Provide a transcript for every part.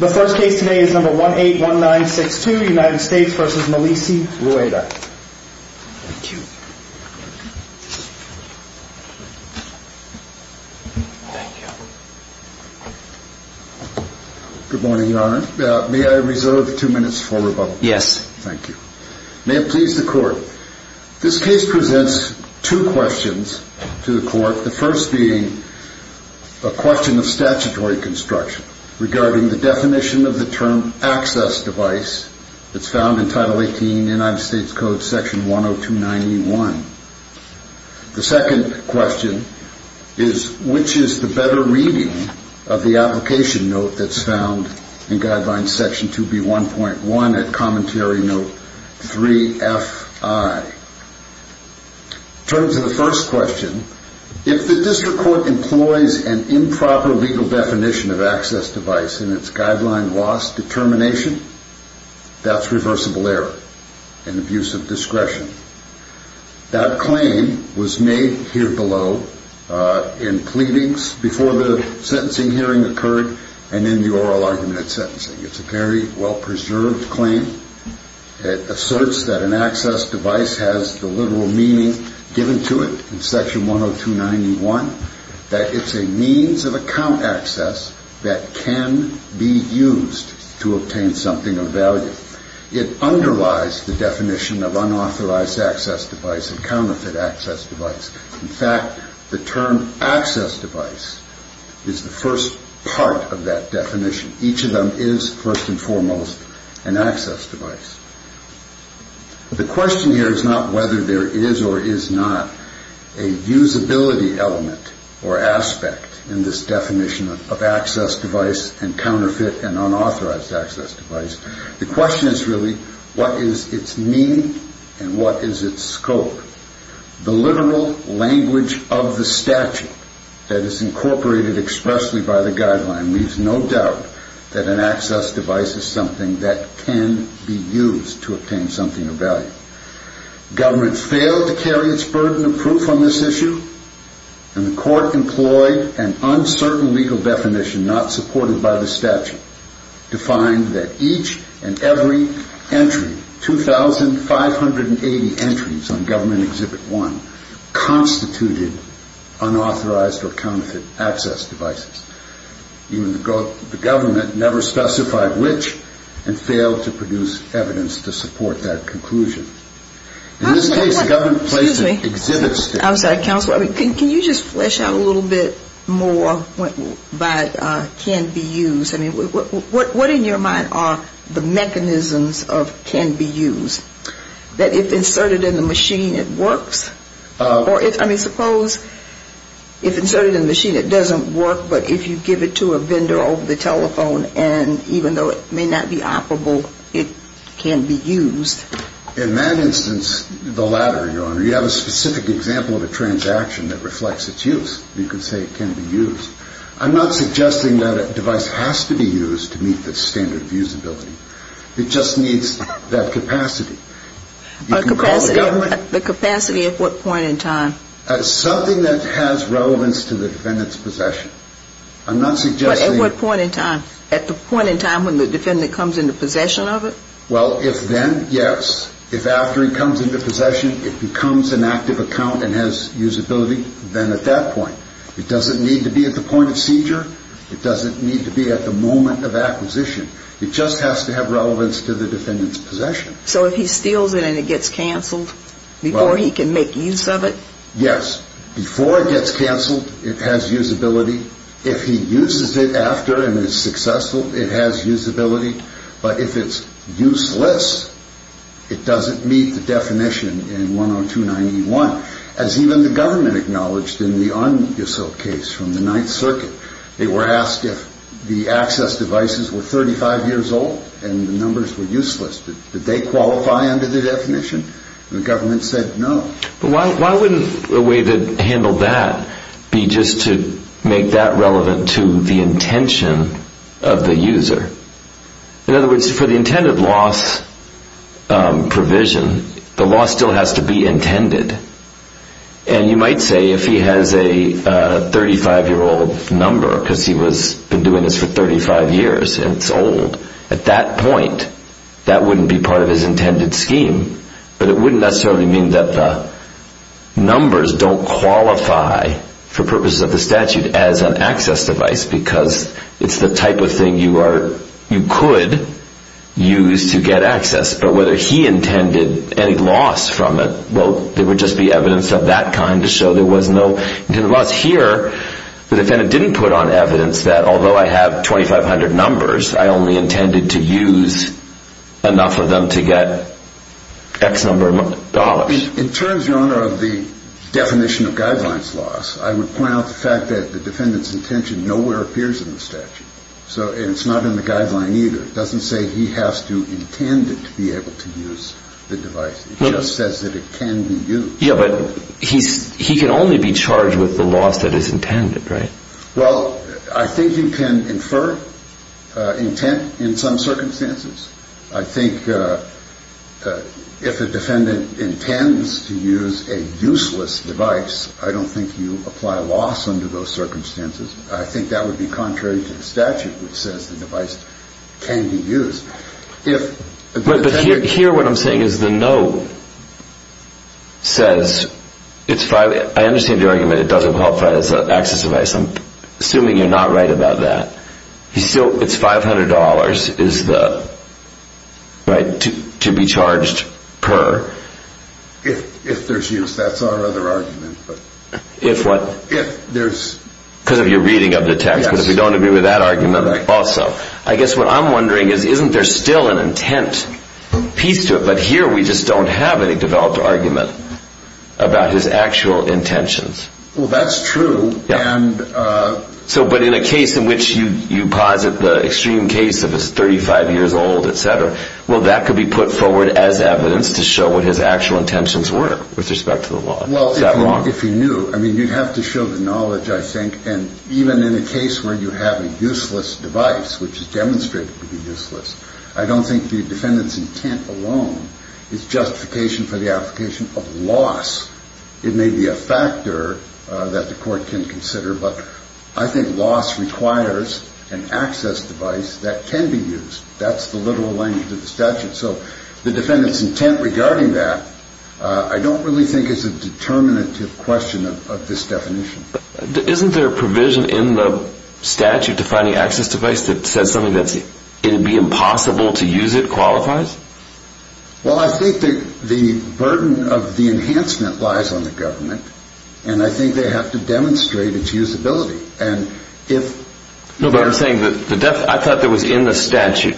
May I please the court? This case presents two questions to the court. The first being a question of statutory construction. Regarding the definition of the term access device that is found in Title 18 United States Code Section 10291. The second question is which is the better reading of the application note that is found in Guidelines Section 2B1.1 at Commentary Note 3FI. In terms of the first question, if the district court employs an improper legal definition of access device in its guideline loss determination, that is reversible error and abuse of discretion. That claim was made here below in pleadings before the sentencing hearing occurred and in the oral argument at sentencing. It's a very well preserved claim. It asserts that an access device has the literal meaning given to it in Section 10291. That it's a means of account access that can be used to obtain something of value. It underlies the definition of unauthorized access device and counterfeit access device. In fact, the term access device is the first part of that definition. Each of them is first and foremost an access device. The question here is not whether there is or is not a usability element or aspect in this definition of access device and counterfeit and unauthorized access device. The question is really what is its meaning and what is its scope. The literal language of the statute that is incorporated expressly by the guideline leaves no doubt that an access device is something that can be used to obtain something of value. Government failed to carry its burden of proof on this issue. And the court employed an uncertain legal definition not supported by the statute to find that each and every entry, 2,580 entries on Government Exhibit 1, constituted unauthorized or counterfeit access devices. Even the government never specified which and failed to produce evidence to support that conclusion. Can you just flesh out a little bit more about can be used? What in your mind are the mechanisms of can be used? That if inserted in the machine it works? I mean, suppose if inserted in the machine it doesn't work, but if you give it to a vendor over the telephone and even though it may not be operable, it can be used. In that instance, the latter, Your Honor. You have a specific example of a transaction that reflects its use. You can say it can be used. I'm not suggesting that a device has to be used to meet the standard of usability. It just needs that capacity. The capacity at what point in time? Something that has relevance to the defendant's possession. I'm not suggesting At what point in time? At the point in time when the defendant comes into possession of it? Well, if then, yes. If after he comes into possession it becomes an active account and has usability, then at that point. It doesn't need to be at the point of seizure. It doesn't need to be at the moment of acquisition. It just has to have relevance to the defendant's possession. So if he steals it and it gets canceled before he can make use of it? Yes. Before it gets canceled, it has usability. If he uses it after and is successful, it has usability. But if it's useless, it doesn't meet the definition in 102-91. As even the government acknowledged in the un-useful case from the Ninth Circuit. They were asked if the access devices were 35 years old and the numbers were useless. Did they qualify under the definition? The government said no. Why wouldn't a way to handle that be just to make that relevant to the intention of the user? In other words, for the intended loss provision, the loss still has to be intended. And you might say if he has a 35-year-old number because he's been doing this for 35 years and it's old, at that point, that wouldn't be part of his intended scheme. But it wouldn't necessarily mean that the numbers don't qualify for purposes of the statute as an access device because it's the type of thing you could use to get access. But whether he intended any loss from it, well, there would just be evidence of that kind to show there was no intended loss. Here, the defendant didn't put on evidence that although I have 2,500 numbers, I only intended to use enough of them to get X number of dollars. In terms, Your Honor, of the definition of guidelines loss, I would point out the fact that the defendant's intention nowhere appears in the statute. So it's not in the guideline either. It doesn't say he has to intend it to be able to use the device. It just says that it can be used. Yeah, but he can only be charged with the loss that is intended, right? Well, I think you can infer intent in some circumstances. I think if a defendant intends to use a useless device, I don't think you apply loss under those circumstances. I think that would be contrary to the statute which says the device can be used. But here what I'm saying is the note says, I understand the argument it doesn't qualify as an access device. I'm assuming you're not right about that. It's $500 to be charged per. If there's use. That's our other argument. If what? If there's... Because of your reading of the text. Yes. I don't want to be with that argument also. I guess what I'm wondering is, isn't there still an intent piece to it? But here we just don't have any developed argument about his actual intentions. Well, that's true. Yeah. And... So, but in a case in which you posit the extreme case of his 35 years old, et cetera, well, that could be put forward as evidence to show what his actual intentions were with respect to the law. Is that wrong? If he knew. I mean, you'd have to show the knowledge, I think. And even in a case where you have a useless device, which is demonstrated to be useless, I don't think the defendant's intent alone is justification for the application of loss. It may be a factor that the court can consider, but I think loss requires an access device that can be used. That's the literal language of the statute. So the defendant's intent regarding that, I don't really think is a determinative question of this definition. Isn't there a provision in the statute defining access device that says something that's, it'd be impossible to use it qualifies? Well, I think that the burden of the enhancement lies on the government. And I think they have to demonstrate its usability. And if... No, but I'm saying that I thought that was in the statute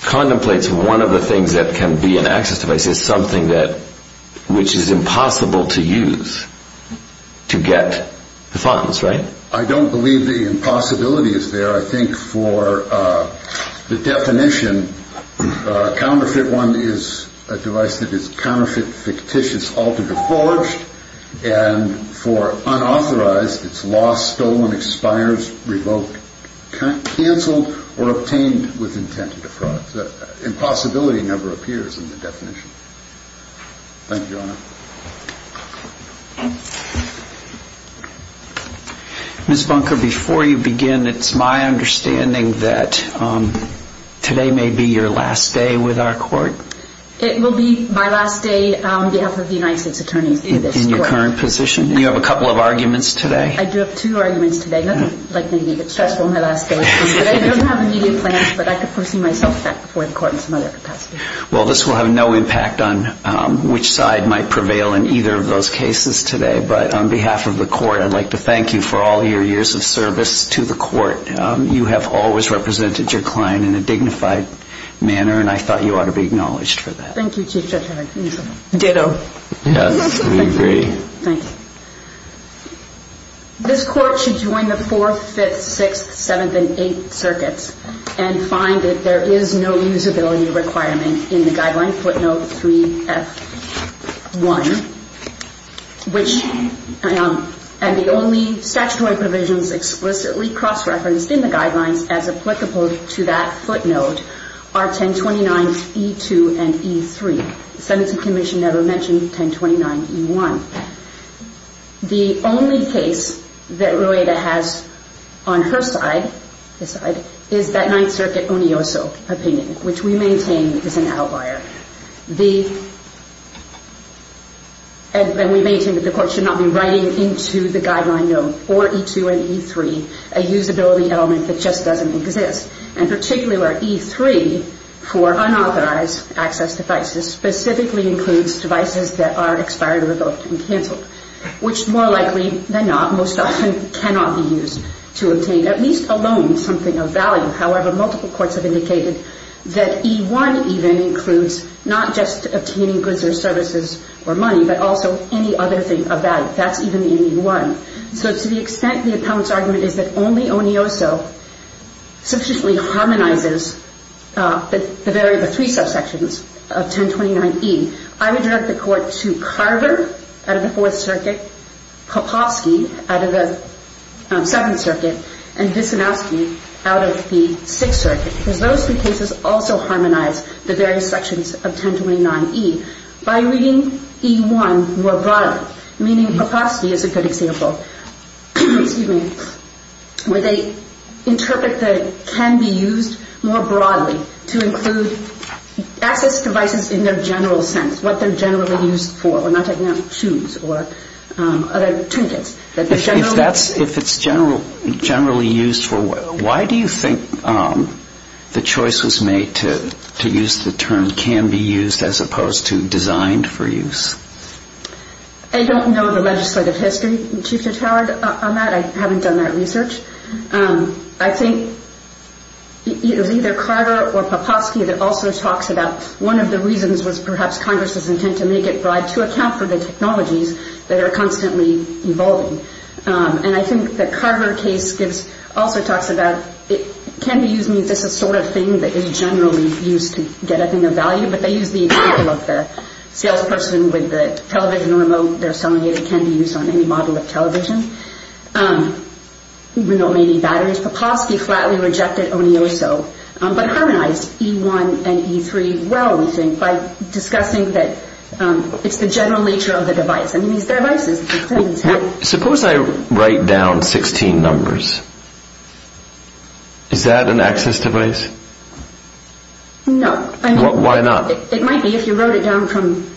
contemplates one of the things that can be an access device is something that which is impossible to use to get the funds. Right? I don't believe the impossibility is there. I think for the definition, counterfeit one is a device that is counterfeit, fictitious, altered or forged. And for unauthorized, it's lost, stolen, expires, revoked, canceled or obtained with intent to defraud. So the impossibility never appears in the definition. Thank you, Your Honor. Ms. Bunker, before you begin, it's my understanding that today may be your last day with our court. It will be my last day on behalf of the United States attorneys. In your current position. You have a couple of arguments today. Well, this will have no impact on which side might prevail in either of those cases today. But on behalf of the court, I'd like to thank you for all your years of service to the court. You have always represented your client in a dignified manner. And I thought you ought to be acknowledged for that. Thank you. Ditto. Yes, we agree. Thank you. This court should join the 4th, 5th, 6th, 7th and 8th circuits and find that there is no usability requirement in the guideline footnote 3F1, which and the only statutory provisions explicitly cross-referenced in the guidelines as applicable to that footnote are 1029 E2 and E3. The sentencing commission never mentioned 1029 E1. The only case that Rueda has on her side, this side, is that 9th Circuit Onioso opinion, which we maintain is an outlier. We maintain that the court should not be writing into the guideline note, or E2 and E3, a usability element that just doesn't exist. And particularly where E3, for unauthorized access devices, specifically includes devices that are expired, revoked and canceled, which more likely than not most often cannot be used to obtain at least a loan, something of value. However, multiple courts have indicated that E1 even includes not just obtaining goods or services or money, but also any other thing of value. That's even in E1. So to the extent the opponent's argument is that only Onioso sufficiently harmonizes the three subsections of 1029 E, I would direct the court to Carver out of the 4th Circuit, Popovsky out of the 7th Circuit, and Visnowski out of the 6th Circuit, because those two cases also harmonize the various sections of 1029 E. By reading E1 more broadly, meaning Popovsky is a good example, where they interpret the can be used more broadly to include access devices in their general sense, what they're generally used for. We're not talking about shoes or other trinkets. If it's generally used for, why do you think the choice was made to use the term can be used as opposed to designed for use? I don't know the legislative history, Chief Judge Howard, on that. I haven't done that research. I think it was either Carver or Popovsky that also talks about one of the reasons was perhaps Congress's intent to make it broad to account for the technologies that are constantly evolving. I think the Carver case also talks about can be used means this is the sort of thing that is generally used to get a thing of value, but they use the example of the salesperson with the television remote they're selling. It can be used on any model of television. Remote may need batteries. Popovsky flatly rejected Onioso, but harmonized E1 and E3 well, we think, by discussing that it's the general nature of the device. I mean, these devices have... Suppose I write down 16 numbers. Is that an access device? No. Why not? It might be if you wrote it down from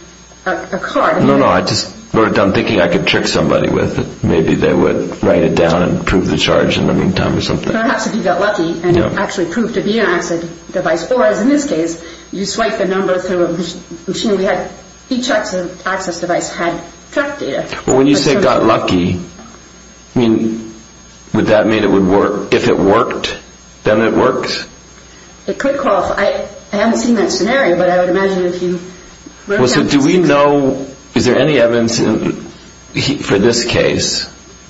a card. No, no, I just wrote it down thinking I could trick somebody with it. Maybe they would write it down and prove the charge in the meantime or something. Perhaps if you got lucky and it actually proved to be an access device. Or as in this case, you swipe a number through a machine. We had each access device had correct data. When you say got lucky, would that mean if it worked, then it works? It could qualify. I haven't seen that scenario, but I would imagine if you wrote down... Do we know, is there any evidence for this case,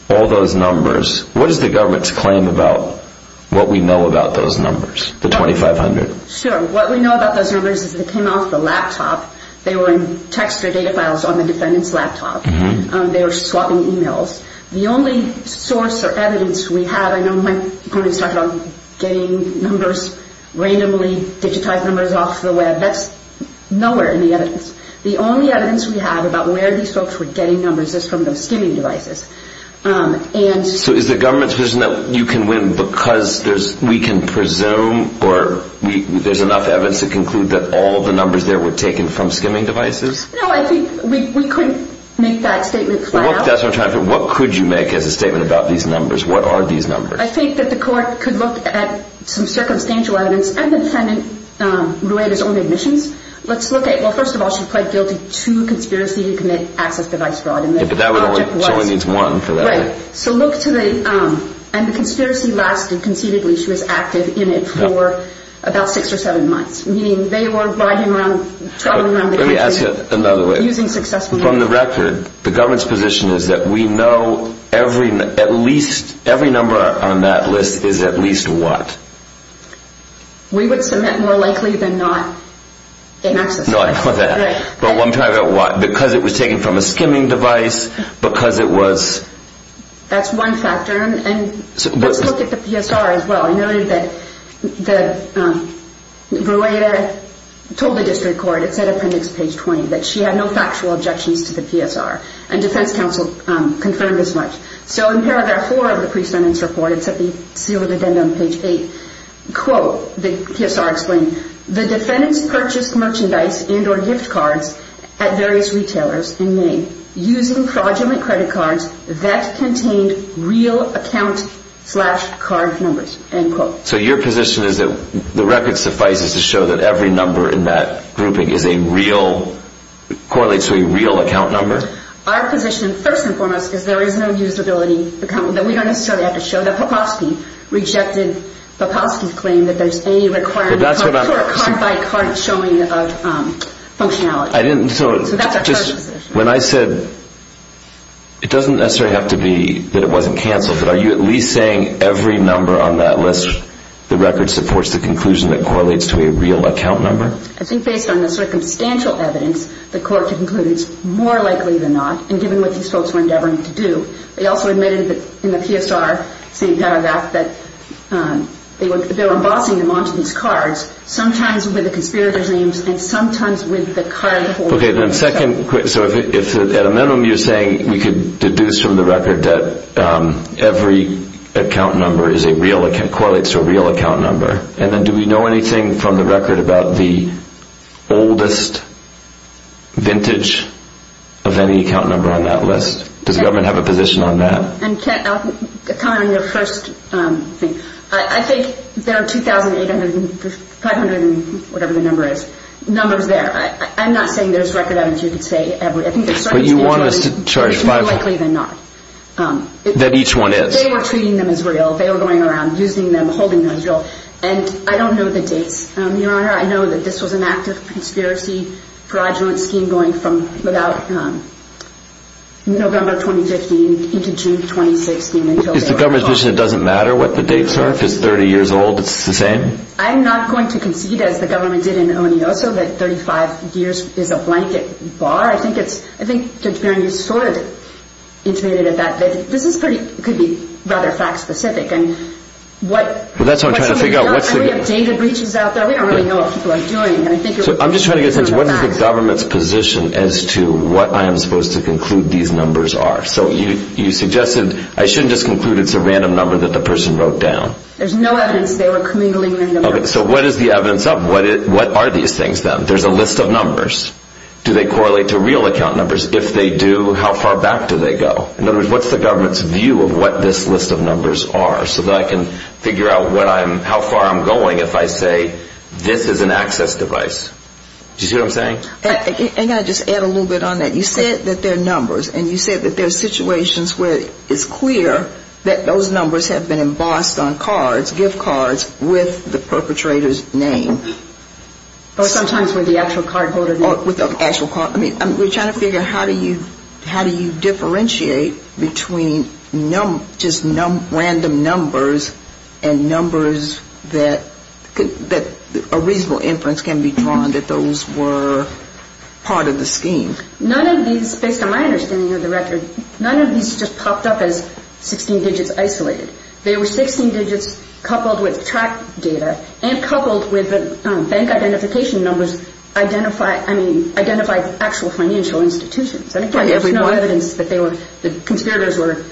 all those numbers, what is the government's claim about what we know about those numbers, the 2,500? Sure. What we know about those numbers is they came off the laptop. They were in text or data files on the defendant's laptop. They were swapping e-mails. The only source or evidence we have... I know my opponents talk about getting numbers, randomly digitized numbers off the web. That's nowhere in the evidence. The only evidence we have about where these folks were getting numbers is from those skimming devices. Is the government's position that you can win because we can presume or there's enough evidence to conclude that all the numbers there were taken from skimming devices? No, I think we couldn't make that statement. What could you make as a statement about these numbers? What are these numbers? I think that the court could look at some circumstantial evidence and the defendant's own admissions. First of all, she pled guilty to conspiracy to commit access device fraud. She only needs one for that. Right. So look to the... And the conspiracy lasted. Conceitedly, she was active in it for about six or seven months, meaning they were riding around, traveling around the country... Let me ask you another way. ...using successful... From the record, the government's position is that we know every number on that list is at least what? We would submit more likely than not an access device. Not for that. But I'm talking about what. Because it was taken from a skimming device, because it was... That's one factor. And let's look at the PSR as well. I noted that Brueta told the district court, it's at appendix page 20, that she had no factual objections to the PSR, and defense counsel confirmed as much. So in paragraph four of the pre-sentence report, it's at the seal of the den on page eight, quote, the PSR explained, the defendants purchased merchandise and or gift cards at various retailers in May using fraudulent credit cards that contained real account slash card numbers, end quote. So your position is that the record suffices to show that every number in that grouping is a real, correlates to a real account number? Our position, first and foremost, is there is no usability account. We don't necessarily have to show that Popovsky rejected Popovsky's claim that there's any requirement of card-by-card showing of functionality. So that's our position. When I said it doesn't necessarily have to be that it wasn't canceled, but are you at least saying every number on that list, the record supports the conclusion that correlates to a real account number? I think based on the circumstantial evidence, the court concluded it's more likely than not, and given what these folks were endeavoring to do. They also admitted that in the PSR same paragraph that they were embossing them onto these cards, sometimes with the conspirators' names and sometimes with the card holders. Okay, then second, so if at a minimum you're saying we could deduce from the record that every account number is a real account, correlates to a real account number, and then do we know anything from the record about the oldest vintage of any account number on that list? Does the government have a position on that? I'll comment on your first thing. I think there are 2,800, 500, whatever the number is, numbers there. I'm not saying there's record evidence. I think the circumstantial evidence is more likely than not. That each one is. They were treating them as real. They were going around using them, holding them as real, and I don't know the dates, Your Honor. I know that this was an active conspiracy fraudulent scheme going from November 2015 into June 2016. Is the government's position it doesn't matter what the dates are? If it's 30 years old, it's the same? I'm not going to concede, as the government did in Onioso, that 35 years is a blanket bar. I think Judge Barron, you sort of intimated it that way. This could be rather fact-specific. That's what I'm trying to figure out. We have data breaches out there. We don't really know what people are doing. I'm just trying to get a sense, what is the government's position as to what I am supposed to conclude these numbers are? So you suggested I shouldn't just conclude it's a random number that the person wrote down. There's no evidence they were commingling random numbers. So what is the evidence of? What are these things then? There's a list of numbers. Do they correlate to real account numbers? If they do, how far back do they go? In other words, what's the government's view of what this list of numbers are so that I can figure out how far I'm going if I say this is an access device? Do you see what I'm saying? And can I just add a little bit on that? You said that they're numbers, and you said that there are situations where it's clear that those numbers have been embossed on cards, gift cards, with the perpetrator's name. Or sometimes with the actual card holder. With the actual card. I mean, we're trying to figure out how do you differentiate between just random numbers and numbers that a reasonable inference can be drawn that those were part of the scheme. None of these, based on my understanding of the record, none of these just popped up as 16 digits isolated. They were 16 digits coupled with track data and coupled with bank identification numbers identified actual financial institutions. There's no evidence that the conspirators were...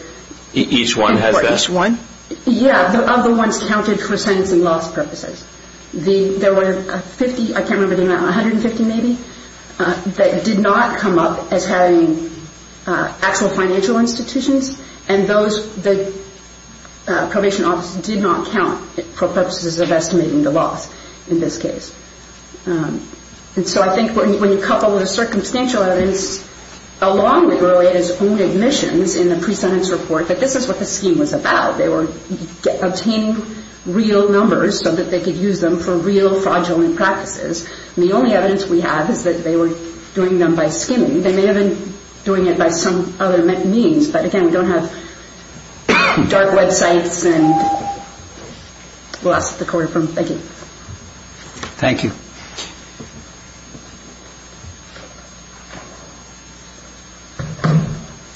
Each one has this one? Yeah. The other ones counted for sentencing loss purposes. There were 50, I can't remember the amount, 150 maybe, that did not come up as having actual financial institutions. And those, the probation officers did not count for purposes of estimating the loss in this case. And so I think when you couple the circumstantial evidence along with early evidence only admissions in the pre-sentence report, that this is what the scheme was about. They were obtaining real numbers so that they could use them for real fraudulent practices. And the only evidence we have is that they were doing them by skimming. They may have been doing it by some other means. But again, we don't have dark websites. And we'll ask the court... Thank you. Thank you.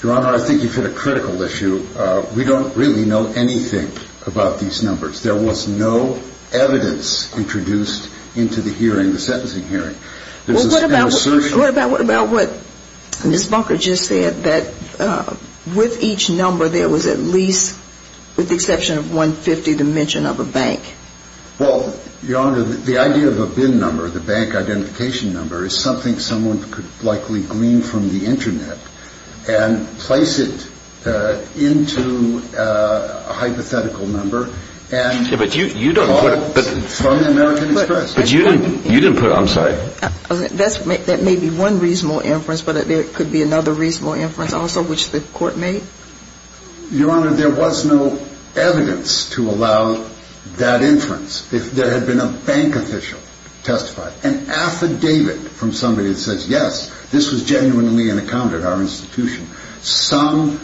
Your Honor, I think you've hit a critical issue. We don't really know anything about these numbers. There was no evidence introduced into the hearing, the sentencing hearing. What about what Ms. Bunker just said, that with each number there was at least, with the exception of 150, the mention of a bank? Well, Your Honor, the idea of a bin number, the bank identification number, is something someone could likely glean from the Internet and place it into a hypothetical number and call it from the American Express. But you didn't put... I'm sorry. That may be one reasonable inference, but there could be another reasonable inference also, which the court made? Your Honor, there was no evidence to allow that inference. If there had been a bank official testify, an affidavit from somebody that says, yes, this was genuinely an account at our institution, some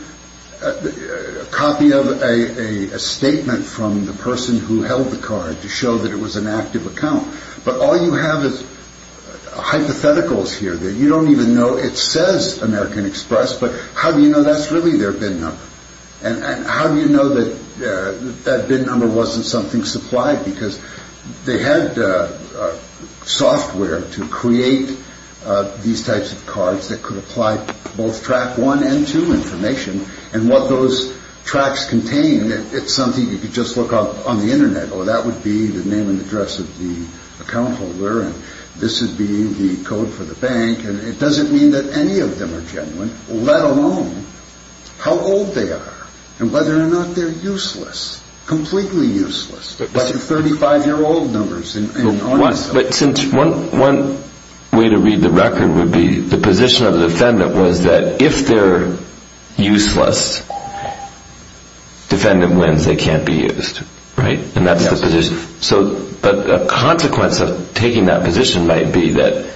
copy of a statement from the person who held the card to show that it was an active account. But all you have is hypotheticals here that you don't even know it says American Express, but how do you know that's really their bin number? And how do you know that that bin number wasn't something supplied? Because they had software to create these types of cards that could apply both Track 1 and 2 information, and what those tracks contained, it's something you could just look up on the Internet. Oh, that would be the name and address of the account holder, and this would be the code for the bank, and it doesn't mean that any of them are genuine, let alone how old they are, and whether or not they're useless, completely useless, like the 35-year-old numbers. But one way to read the record would be the position of the defendant was that if they're useless, defendant wins, they can't be used, right? And that's the position. But a consequence of taking that position might be that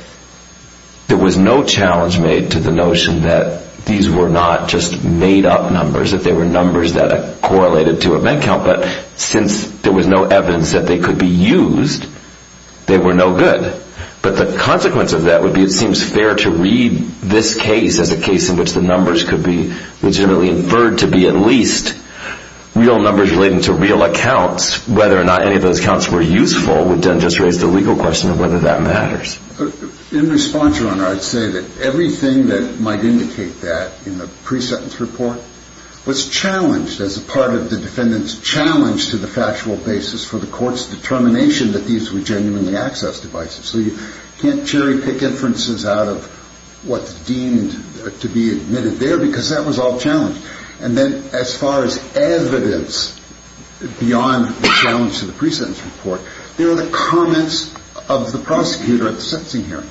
there was no challenge made to the notion that these were not just made-up numbers, that they were numbers that correlated to a bank account, but since there was no evidence that they could be used, they were no good. But the consequence of that would be it seems fair to read this case as a case in which the numbers could be legitimately inferred to be at least real numbers relating to real accounts. Whether or not any of those accounts were useful would then just raise the legal question of whether that matters. In response, Your Honor, I'd say that everything that might indicate that in the pre-sentence report was challenged as a part of the defendant's challenge to the factual basis for the court's determination that these were genuinely accessed devices. So you can't cherry-pick inferences out of what's deemed to be admitted there because that was all challenged. And then as far as evidence beyond the challenge to the pre-sentence report, there are the comments of the prosecutor at the sentencing hearing.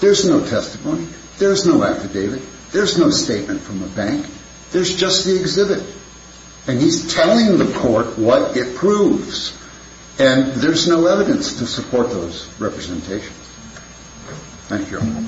There's no testimony. There's no affidavit. There's no statement from the bank. There's just the exhibit. And he's telling the court what it proves. Thank you, Your Honor.